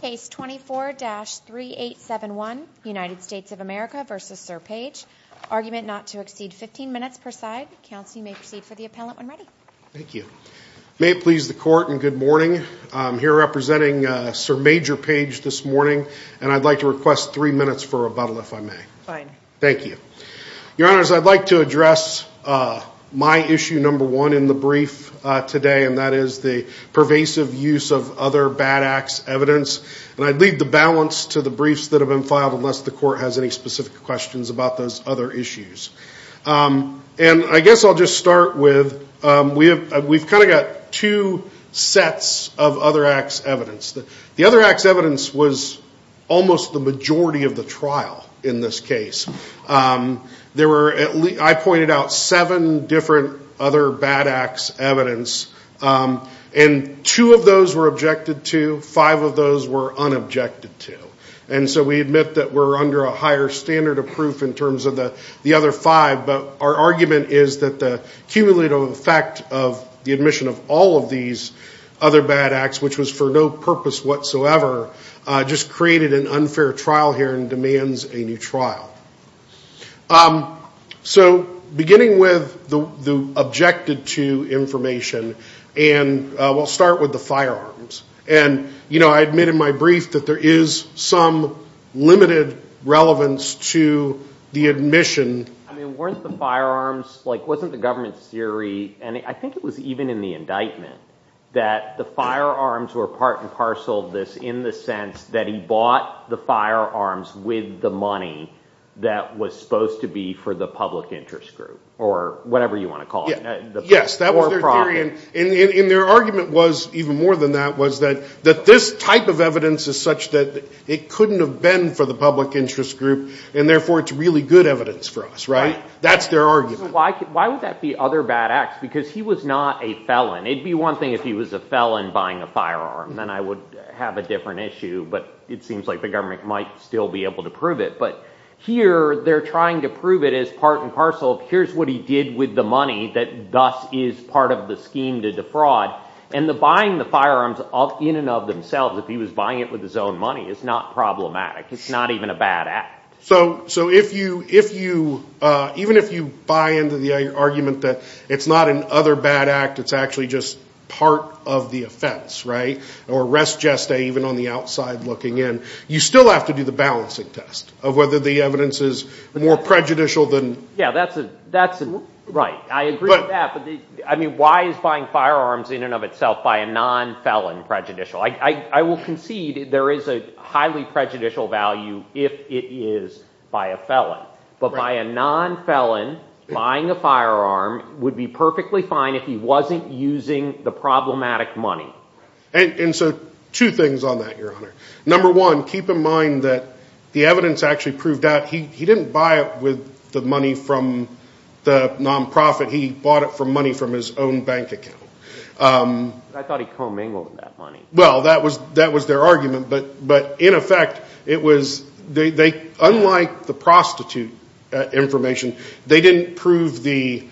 Case 24-3871 United States of America v. Sir Page Argument not to exceed 15 minutes per side. Counsel, you may proceed for the appellant when ready. Thank you. May it please the court and good morning I'm here representing Sir Major Page this morning, and I'd like to request three minutes for rebuttal if I may. Fine. Thank you Your honors, I'd like to address My issue number one in the brief today And that is the pervasive use of other bad acts evidence And I'd leave the balance to the briefs that have been filed unless the court has any specific questions about those other issues And I guess I'll just start with we have we've kind of got two Sets of other acts evidence that the other acts evidence was almost the majority of the trial in this case There were at least I pointed out seven different other bad acts evidence And two of those were objected to five of those were Unobjected to and so we admit that we're under a higher standard of proof in terms of the the other five But our argument is that the cumulative effect of the admission of all of these other bad acts Which was for no purpose whatsoever Just created an unfair trial here and demands a new trial So beginning with the Objected to information and We'll start with the firearms, and you know I admit in my brief that there is some limited relevance to The admission I mean weren't the firearms like wasn't the government's theory And I think it was even in the indictment that the firearms were part and parcel of this in the sense that he bought the firearms with the money that Was supposed to be for the public interest group or whatever you want to call it Yes That were probably in in their argument was even more than that was that that this type of evidence is such that it Couldn't have been for the public interest group and therefore. It's really good evidence for us right. That's their argument Why why would that be other bad acts because he was not a felon it'd be one thing if he was a felon buying a Firearm, then I would have a different issue, but it seems like the government might still be able to prove it But here they're trying to prove it as part and parcel Here's what he did with the money that thus is part of the scheme to defraud and the buying the firearms Of in and of themselves if he was buying it with his own money. It's not problematic It's not even a bad act so so if you if you Even if you buy into the argument that it's not an other bad act It's actually just part of the offense right or rest Even on the outside looking in you still have to do the balancing test of whether the evidence is more prejudicial than yeah That's it. That's it, right? I agree, but I mean why is buying firearms in and of itself by a non felon prejudicial? I will concede there is a highly prejudicial value if it is by a felon But by a non felon buying a firearm would be perfectly fine if he wasn't using the problematic money And so two things on that your honor number one keep in mind that the evidence actually proved out He didn't buy it with the money from the nonprofit. He bought it for money from his own bank account Well that was that was their argument, but but in effect it was they unlike the prostitute information they didn't prove the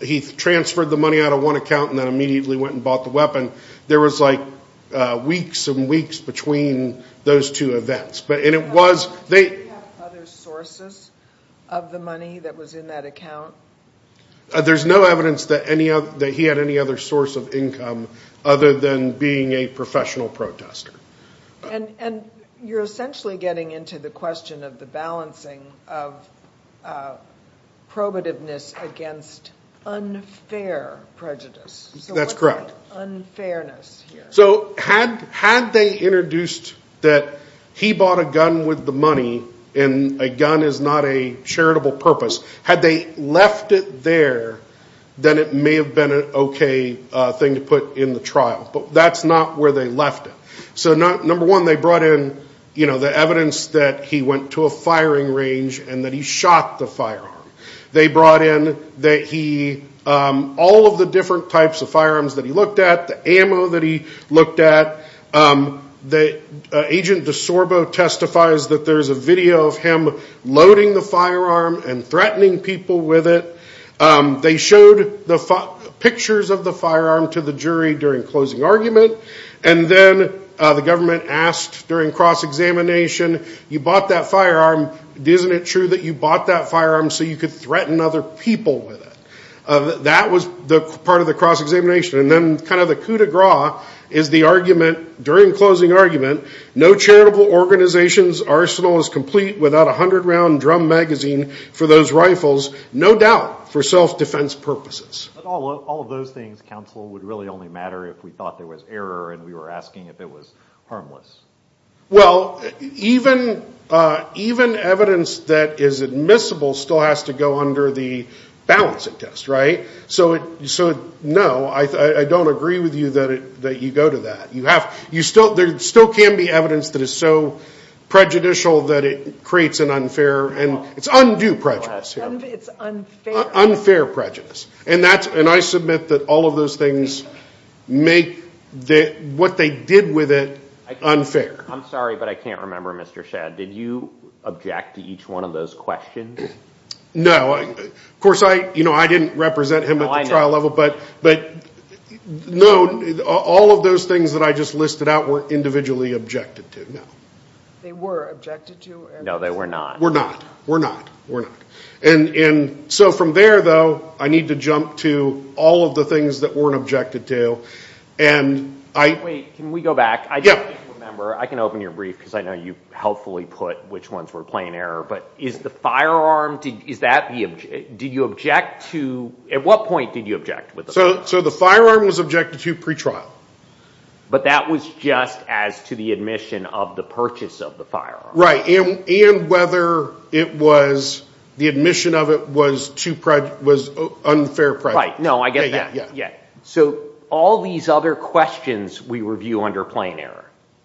He transferred the money out of one account and then immediately went and bought the weapon there was like weeks and weeks between those two events, but and it was they There's no evidence that any of that he had any other source of income other than being a professional protester and and you're essentially getting into the question of the balancing of Probativeness against unfair prejudice, that's correct so had had they introduced that he bought a gun with the money and a gun is not a Charitable purpose had they left it there Then it may have been an okay thing to put in the trial, but that's not where they left it So not number one they brought in you know the evidence that he went to a firing range and that he shot the firearm They brought in that he All of the different types of firearms that he looked at the ammo that he looked at The agent DeSorbo testifies that there's a video of him loading the firearm and threatening people with it they showed the pictures of the firearm to the jury during closing argument and then The government asked during cross-examination You bought that firearm. Isn't it true that you bought that firearm so you could threaten other people with it? That was the part of the cross-examination and then kind of the coup de gras is the argument during closing argument No charitable organizations arsenal is complete without a hundred round drum magazine for those rifles No doubt for self-defense purposes All of those things counsel would really only matter if we thought there was error and we were asking if it was harmless well, even even evidence that is admissible still has to go under the Balancing test right so it so no I don't agree with you that it that you go to that you have you still there still can be evidence that is so Prejudicial that it creates an unfair, and it's undue prejudice It's Unfair prejudice, and that's and I submit that all of those things Make that what they did with it Unfair, I'm sorry, but I can't remember mr.. Shad. Did you object to each one of those questions? no, of course I you know I didn't represent him at the trial level, but but No, all of those things that I just listed out were individually objected to no They were objected to no they were not we're not we're not we're not and in so from there though I need to jump to all of the things that weren't objected to and I wait can we go back? I yeah remember I can open your brief because I know you helpfully put which ones were playing error But is the firearm did is that the object did you object to at what point did you object with so so the firearm was? objected to pretrial But that was just as to the admission of the purchase of the firearm right in and whether it was The admission of it was to pride was unfair pride. No I get that yeah So all these other questions we review under plain error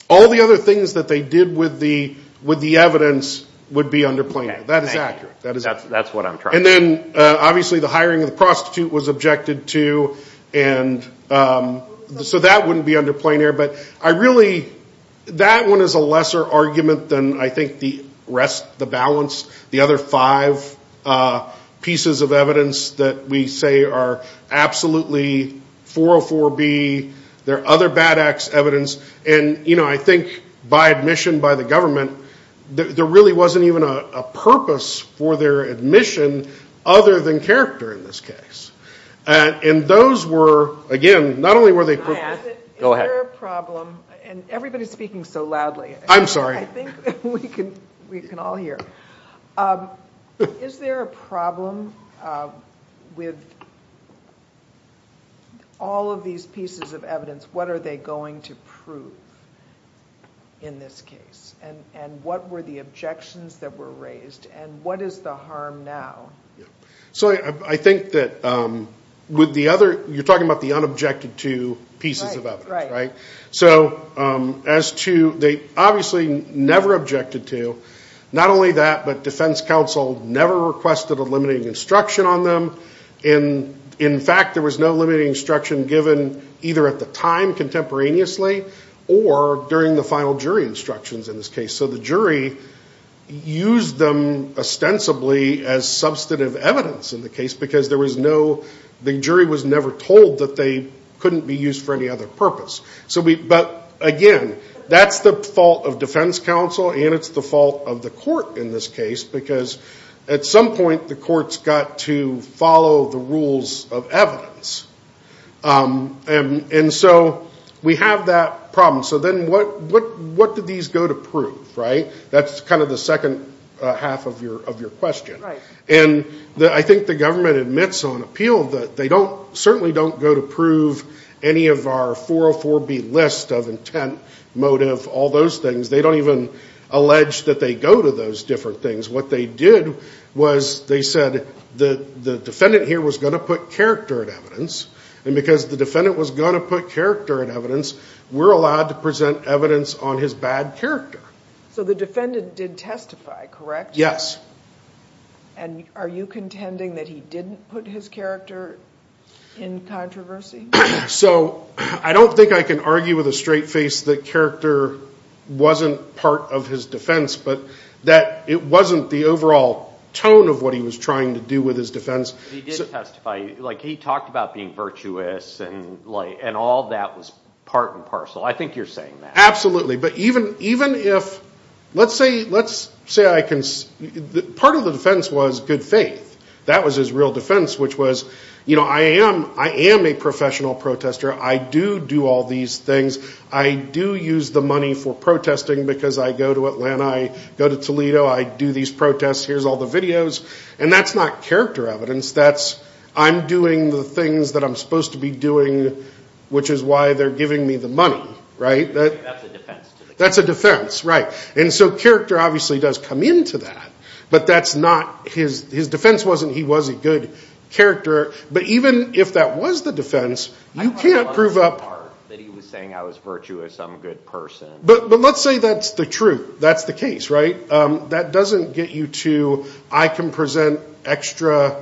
all the other things that they did with the with the evidence Would be under play that is accurate. That is that's what I'm trying and then obviously the hiring of the prostitute was objected to and So that wouldn't be under plain error, but I really That one is a lesser argument than I think the rest the balance the other five pieces of evidence that we say are absolutely 404 B. There are other bad acts evidence, and you know I think by admission by the government There really wasn't even a purpose for their admission other than character in this case And those were again not only were they Problem and everybody's speaking so loudly. I'm sorry We can all hear Is there a problem? with All of these pieces of evidence, what are they going to prove? In this case and and what were the objections that were raised and what is the harm now? so I think that With the other you're talking about the unobjected to pieces of other right so as to they obviously Never objected to not only that but defense counsel never requested a limiting instruction on them in In fact there was no limiting instruction given either at the time contemporaneously Or during the final jury instructions in this case so the jury used them Ostensibly as substantive evidence in the case because there was no the jury was never told that they Couldn't be used for any other purpose so we but again That's the fault of defense counsel And it's the fault of the court in this case because at some point the courts got to follow the rules of evidence And and so we have that problem, so then what what what did these go to prove right? That's kind of the second half of your of your question And that I think the government admits on appeal that they don't certainly don't go to prove any of our 404 B list of intent motive all those things they don't even Allege that they go to those different things what they did was they said the the defendant here was going to put character at evidence And because the defendant was going to put character at evidence We're allowed to present evidence on his bad character, so the defendant did testify correct yes, and Are you contending that he didn't put his character in? Controversy so I don't think I can argue with a straight face the character Wasn't part of his defense, but that it wasn't the overall tone of what he was trying to do with his defense Like he talked about being virtuous and light and all that was part and parcel I think you're saying that absolutely, but even even if let's say let's say I can Part of the defense was good faith that was his real defense Which was you know I am I am a professional protester. I do do all these things I do use the money for protesting because I go to Atlanta. I go to Toledo. I do these protests Here's all the videos, and that's not character evidence. That's I'm doing the things that I'm supposed to be doing Which is why they're giving me the money, right? That's a defense right and so character obviously does come into that, but that's not his his defense wasn't he was a good? Character, but even if that was the defense you can't prove up I was virtuous. I'm a good person, but but let's say that's the truth That's the case right that doesn't get you to I can present extra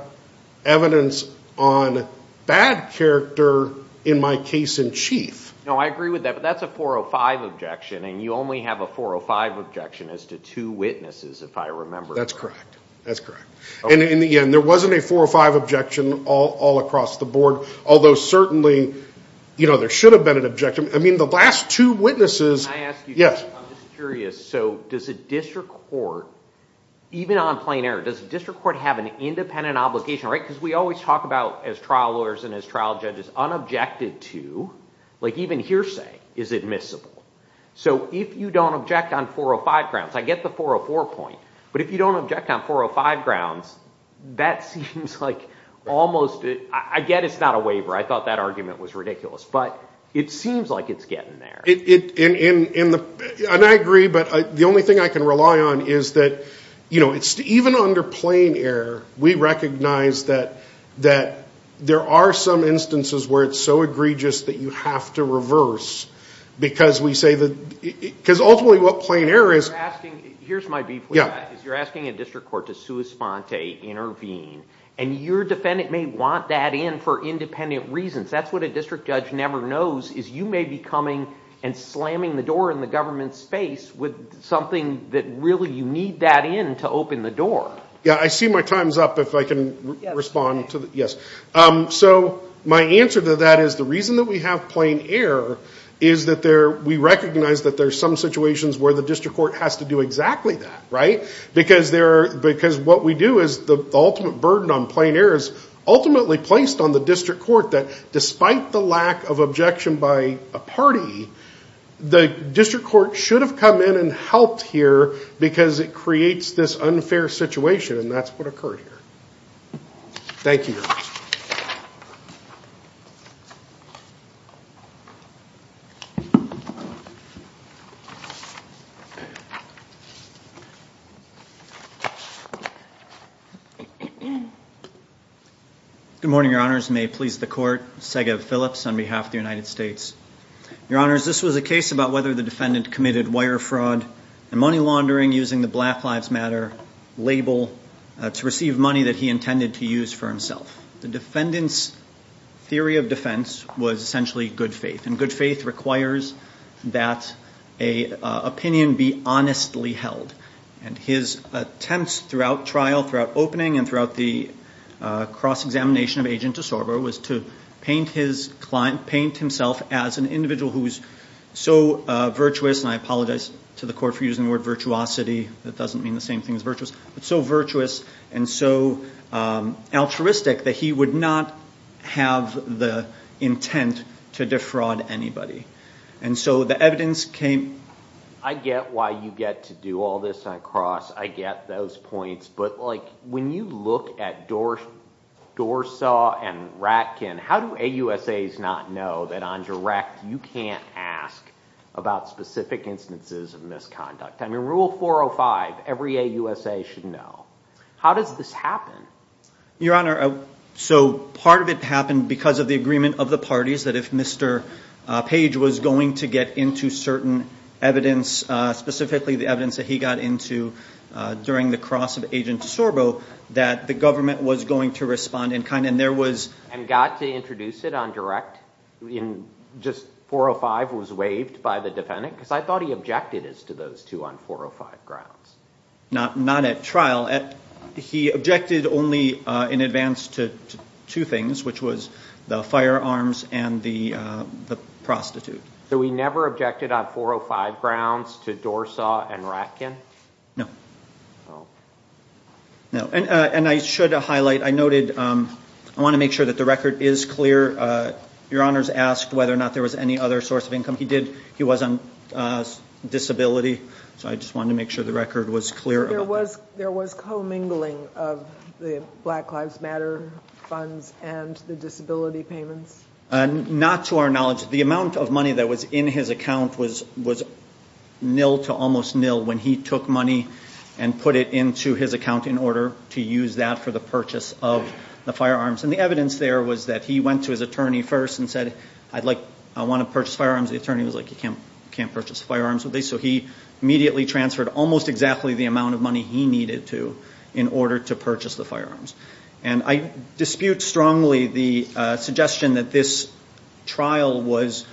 evidence on Bad character in my case in chief now I agree with that, but that's a 405 objection And you only have a 405 objection as to two witnesses if I remember that's correct That's correct, and in the end there wasn't a 405 objection all all across the board although certainly You know there should have been an objection, I mean the last two witnesses yes So does a district court? Even on plain air does the district court have an independent obligation right because we always talk about as trial lawyers and as trial judges Unobjected to like even hearsay is admissible So if you don't object on 405 grounds I get the 404 point, but if you don't object on 405 grounds That seems like almost it I get it's not a waiver I thought that argument was ridiculous, but it seems like it's getting there it in in in the and I agree But the only thing I can rely on is that you know it's even under plain air We recognize that that there are some instances where it's so egregious that you have to reverse Because we say that because ultimately what plain air is asking here's my beef You're asking a district court to sue a sponte intervene and your defendant may want that in for independent reasons That's what a district judge never knows is you may be coming and slamming the door in the government's face with Something that really you need that in to open the door. Yeah, I see my times up if I can respond to the yes So my answer to that is the reason that we have plain air is that there we recognize that there's some Situations where the district court has to do exactly that right because there because what we do is the ultimate burden on plain air is Ultimately placed on the district court that despite the lack of objection by a party The district court should have come in and helped here because it creates this unfair situation, and that's what occurred here Thank you Good Morning your honors may please the court Sega Phillips on behalf of the United States Your honors. This was a case about whether the defendant committed wire fraud and money laundering using the black lives matter Label to receive money that he intended to use for himself the defendants theory of defense was essentially good faith and good faith requires that a Opinion be honestly held and his attempts throughout trial throughout opening and throughout the cross-examination of agent to Sorbo was to paint his client paint himself as an individual who was so Virtuous and I apologize to the court for using the word virtuosity. That doesn't mean the same thing as virtuous, but so virtuous and so Altruistic that he would not have the intent to defraud anybody and so the evidence came I get why you get to do all this and I cross I get those points, but like when you look at door Dorsaw and Ratkin how do a USA's not know that on direct you can't ask About specific instances of misconduct. I mean rule 405 every a USA should know how does this happen? Your honor so part of it happened because of the agreement of the parties that if mr. Page was going to get into certain evidence specifically the evidence that he got into During the cross of agent Sorbo that the government was going to respond in kind and there was and got to introduce it on direct In just 405 was waived by the defendant because I thought he objected as to those two on 405 grounds Not not at trial at he objected only in advance to two things which was the firearms and the Prostitute so we never objected on 405 grounds to Dorsaw and Ratkin. No No, and and I should highlight I noted I want to make sure that the record is clear Your honors asked whether or not there was any other source of income. He did he was on Disability, so I just wanted to make sure the record was clear There was co-mingling of the Black Lives Matter funds and the disability payments Not to our knowledge the amount of money that was in his account was was nil to almost nil when he took money and Put it into his account in order to use that for the purchase of the firearms and the evidence there was that he went to His attorney first and said I'd like I want to purchase firearms the attorney was like you can't can't purchase firearms with me so he immediately transferred almost exactly the amount of money he needed to in order to purchase the firearms and I dispute strongly the suggestion that this trial was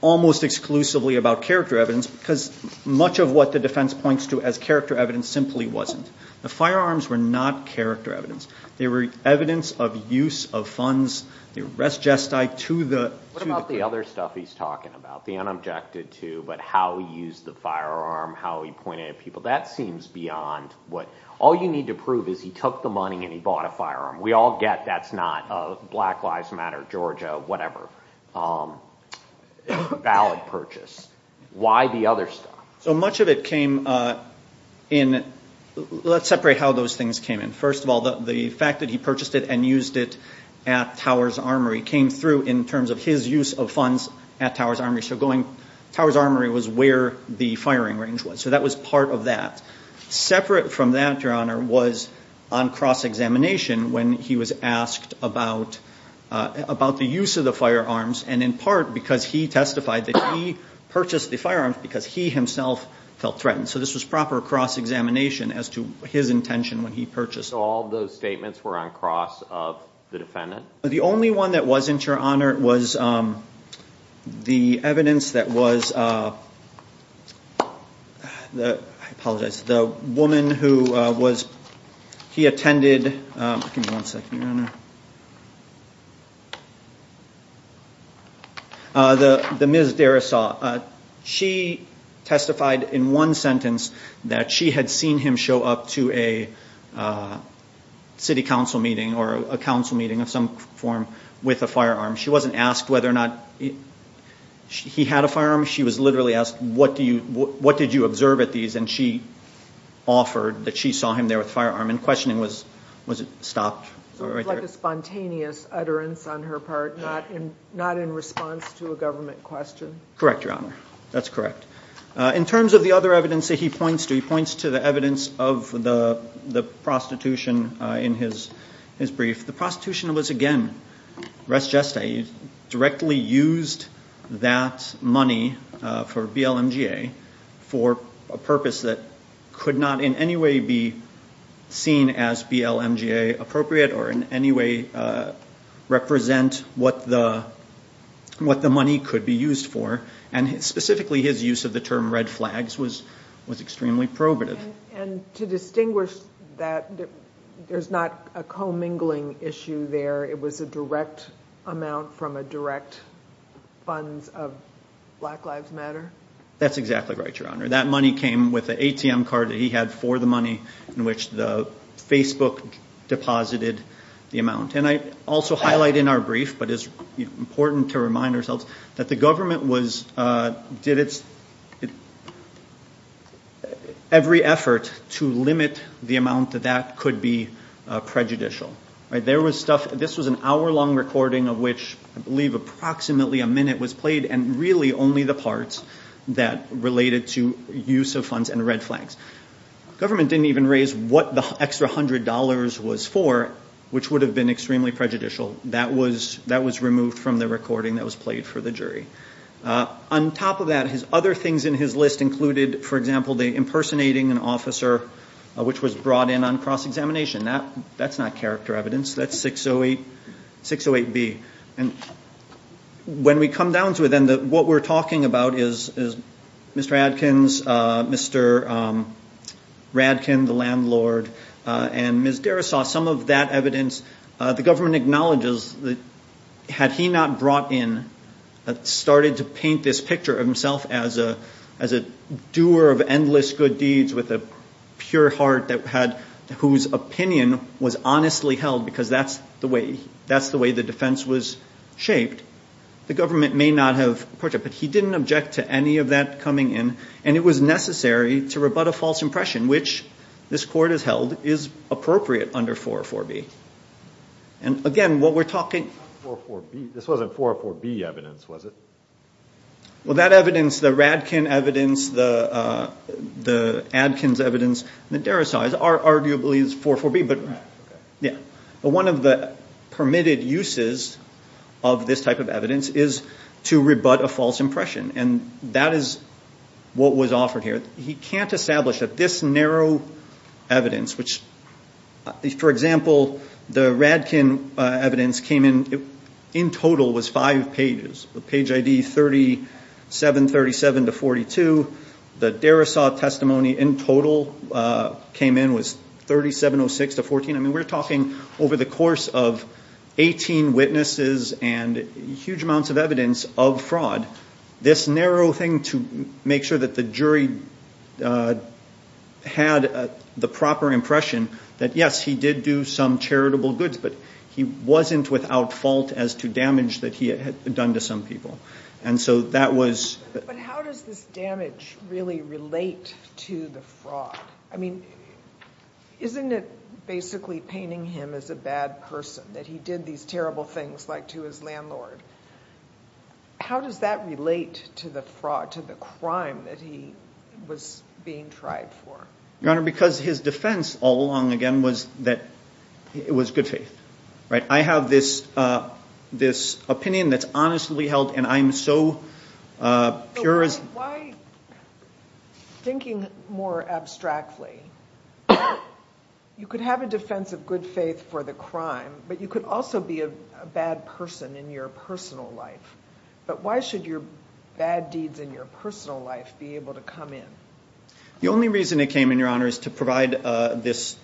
almost exclusively about character evidence because Much of what the defense points to as character evidence simply wasn't the firearms were not character evidence They were evidence of use of funds the arrest jest I to the what about the other stuff He's talking about the unobjected to but how he used the firearm how he pointed at people that seems beyond What all you need to prove is he took the money and he bought a firearm we all get that's not a black lives matter Georgia, whatever Valid purchase why the other stuff so much of it came in Let's separate how those things came in first of all the fact that he purchased it and used it at Towers Armory came through in terms of his use of funds at Towers Armory So going Towers Armory was where the firing range was so that was part of that Separate from that your honor was on cross-examination when he was asked about About the use of the firearms and in part because he testified that he purchased the firearms because he himself Felt threatened so this was proper cross-examination as to his intention when he purchased all those statements were on cross of the defendant the only one that wasn't your honor was the evidence that was The apologize the woman who was he attended The the ms. Dara saw she testified in one sentence that she had seen him show up to a City council meeting or a council meeting of some form with a firearm she wasn't asked whether or not He had a firearm. She was literally asked. What do you what did you observe at these and she? Offered that she saw him there with firearm and questioning was was it stopped Spontaneous utterance on her part not in not in response to a government question correct your honor. That's correct in terms of the other evidence that he points to he points to the evidence of the Prostitution in his his brief the prostitution was again rest just a directly used that money for BLM GA for a purpose that could not in any way be Seen as BLM GA appropriate or in any way represent what the What the money could be used for and it's specifically his use of the term red flags was was extremely probative and to distinguish That there's not a co-mingling issue there. It was a direct amount from a direct funds of Black Lives Matter That's exactly right your honor that money came with the ATM card that he had for the money in which the Facebook Deposited the amount and I also highlight in our brief, but it's important to remind ourselves that the government was did it's Every effort to limit the amount that that could be prejudicial right there was stuff this was an hour-long recording of which I believe Approximately a minute was played and really only the parts that related to use of funds and red flags Government didn't even raise what the extra hundred dollars was for which would have been extremely prejudicial That was that was removed from the recording that was played for the jury On top of that his other things in his list included for example the impersonating an officer Which was brought in on cross-examination that that's not character evidence. That's 608 608 B and When we come down to it, then that what we're talking about is is mr. Adkins mr. Radkin the landlord and Miss Dara saw some of that evidence the government acknowledges that Had he not brought in a started to paint this picture of himself as a as a doer of endless good deeds with a Pure heart that had whose opinion was honestly held because that's the way that's the way the defense was Shaped the government may not have purchased But he didn't object to any of that coming in and it was necessary to rebut a false impression which this court has held is appropriate under 404 B and Again what we're talking This wasn't 404 B evidence. Was it? well that evidence the Radkin evidence the the Adkins evidence the Dara sighs are arguably is for for B, but yeah, but one of the permitted uses of This type of evidence is to rebut a false impression and that is What was offered here? He can't establish that this narrow evidence which For example the Radkin evidence came in in total was five pages the page ID 37 37 to 42 the Dara saw testimony in total Came in was 3706 to 14. I mean we're talking over the course of 18 witnesses and huge amounts of evidence of fraud this narrow thing to make sure that the jury Had The proper impression that yes, he did do some charitable goods But he wasn't without fault as to damage that he had done to some people and so that was Really relate to the fraud I mean Isn't it basically painting him as a bad person that he did these terrible things like to his landlord? How does that relate to the fraud to the crime that he was being tried for your honor because his defense all along Again, was that it was good faith, right? I have this This opinion that's honestly held and I'm so pure as Thinking more abstractly You could have a defense of good faith for the crime, but you could also be a bad person in your personal life But why should your bad deeds in your personal life be able to come in? the only reason it came in your honor is to provide this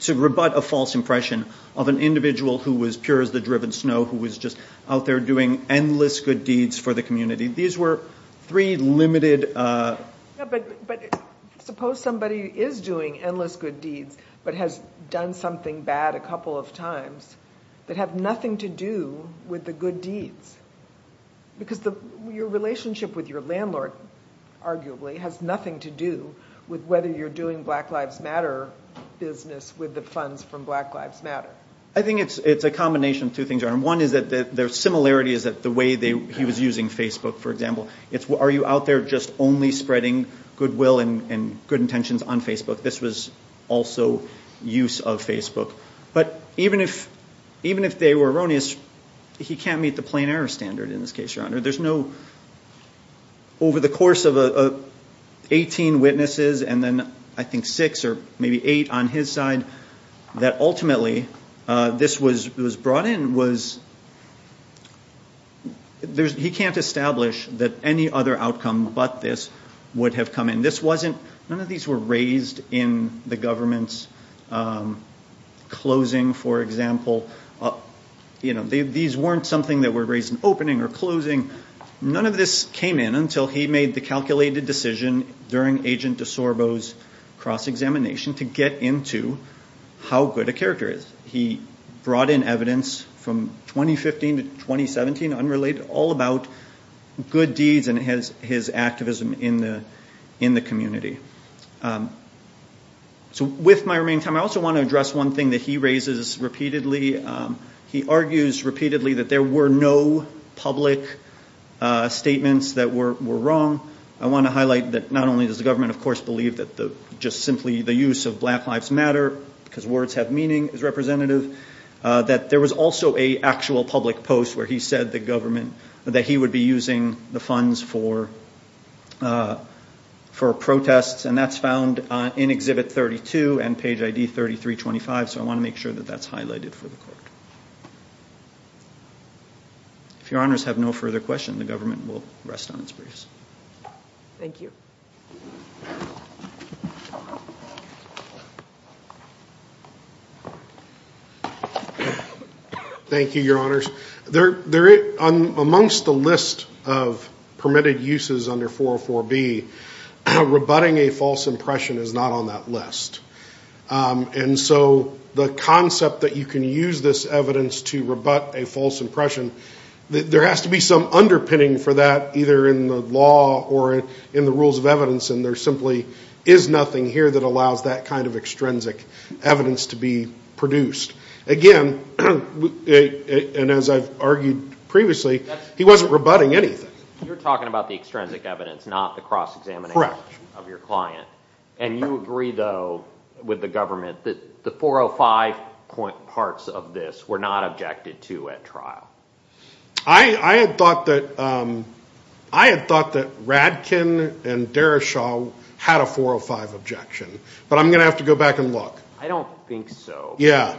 to Rebut a false impression of an individual who was pure as the driven snow who was just out there doing Endless good deeds for the community. These were three limited But suppose somebody is doing endless good deeds But has done something bad a couple of times that have nothing to do with the good deeds Because the your relationship with your landlord Arguably has nothing to do with whether you're doing black lives matter Business with the funds from black lives matter I think it's it's a combination two things are and one is that their similarity is that the way they he was using Facebook for example It's what are you out there? Just only spreading goodwill and good intentions on Facebook. This was also Use of Facebook, but even if even if they were erroneous, he can't meet the plain-error standard in this case your honor. There's no over the course of a 18 witnesses and then I think six or maybe eight on his side that ultimately this was was brought in was There's he can't establish that any other outcome, but this would have come in this wasn't none of these were raised in the government's Closing for example You know, these weren't something that were raised in opening or closing None of this came in until he made the calculated decision during agent de Sorbo's cross-examination to get into How good a character is he brought in evidence from? 2015 to 2017 unrelated all about good deeds and has his activism in the in the community So with my remaining time, I also want to address one thing that he raises repeatedly He argues repeatedly that there were no public Statements that were wrong. I want to highlight that not only does the government of course believe that the just simply the use of black Lives matter because words have meaning is representative That there was also a actual public post where he said the government that he would be using the funds for For protests and that's found in exhibit 32 and page ID 33 25, so I want to make sure that that's highlighted for the court If your honors have no further question the government will rest on its briefs, thank you Thank you your honors there there it on amongst the list of permitted uses under 404 B Rebutting a false impression is not on that list And so the concept that you can use this evidence to rebut a false impression There has to be some underpinning for that either in the law or in the rules of evidence And there simply is nothing here that allows that kind of extrinsic evidence to be produced again And as I've argued previously He wasn't rebutting anything you're talking about the extrinsic evidence not the cross-examination of your client And you agree though with the government that the 405 point parts of this were not objected to at trial I I had thought that I Had thought that Radkin and Derrishaw had a 405 objection, but I'm gonna have to go back and look I don't think so yeah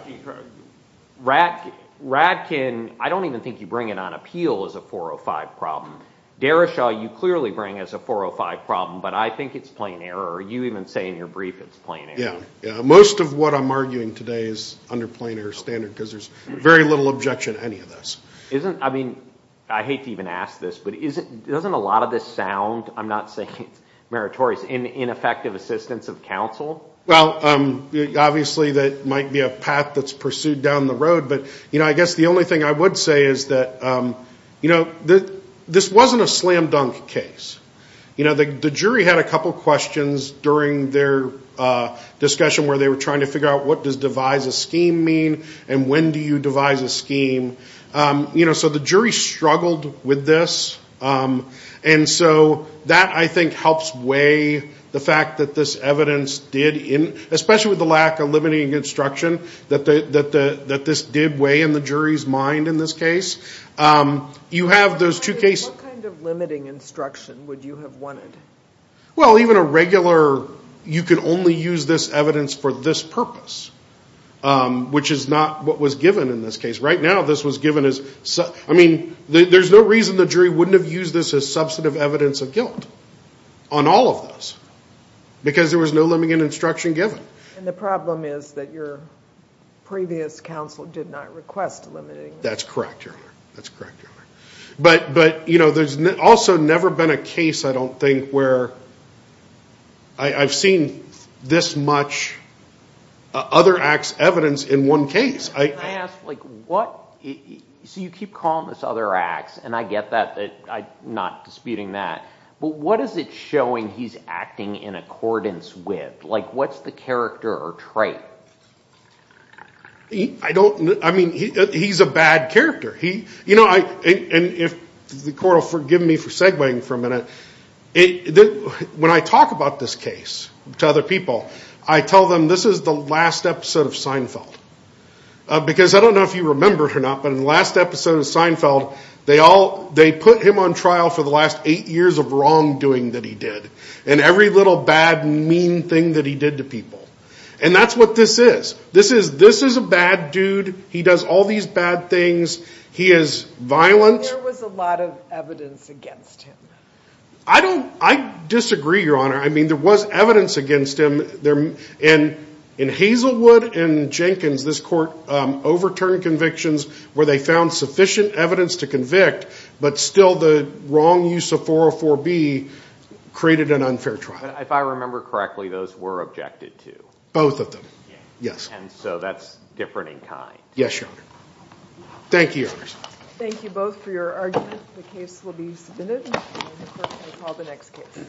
Rack Radkin I don't even think you bring it on appeal as a 405 problem Derrishaw you clearly bring as a 405 problem, but I think it's plain error you even say in your brief. It's plain Yeah, most of what I'm arguing today is under plainer standard because there's very little objection any of this isn't I mean I hate to even ask this, but isn't doesn't a lot of this sound. I'm not saying it's meritorious in ineffective assistance of counsel well Obviously that might be a path that's pursued down the road, but you know I guess the only thing I would say is that You know that this wasn't a slam-dunk case. You know the jury had a couple questions during their Discussion where they were trying to figure out what does devise a scheme mean and when do you devise a scheme? You know so the jury struggled with this And so that I think helps weigh the fact that this evidence did in especially with the lack of limiting Instruction that the that the that this did weigh in the jury's mind in this case You have those two cases Well even a regular you can only use this evidence for this purpose Which is not what was given in this case right now. This was given as I mean There's no reason the jury wouldn't have used this as substantive evidence of guilt on all of this Because there was no limiting instruction given and the problem is that your Previous counsel did not request limiting. That's correct your honor. That's correct But but you know there's also never been a case. I don't think where I've seen this much Other acts evidence in one case I What? So you keep calling this other acts, and I get that that I'm not disputing that But what is it showing he's acting in accordance with like what's the character or trait? He I don't I mean he's a bad character He you know I and if the court will forgive me for segwaying for a minute It when I talk about this case to other people I tell them this is the last episode of Seinfeld Because I don't know if you remembered or not But in the last episode of Seinfeld They all they put him on trial for the last eight years of wrongdoing that he did and every little bad Mean thing that he did to people and that's what this is this is this is a bad, dude He does all these bad things he is violent I don't I disagree your honor. I mean there was evidence against him there and in Hazelwood and Jenkins this court Overturned convictions where they found sufficient evidence to convict, but still the wrong use of 404 B Created an unfair trial if I remember correctly those were objected to both of them. Yes, and so that's different in kind yes, your honor Thank you The next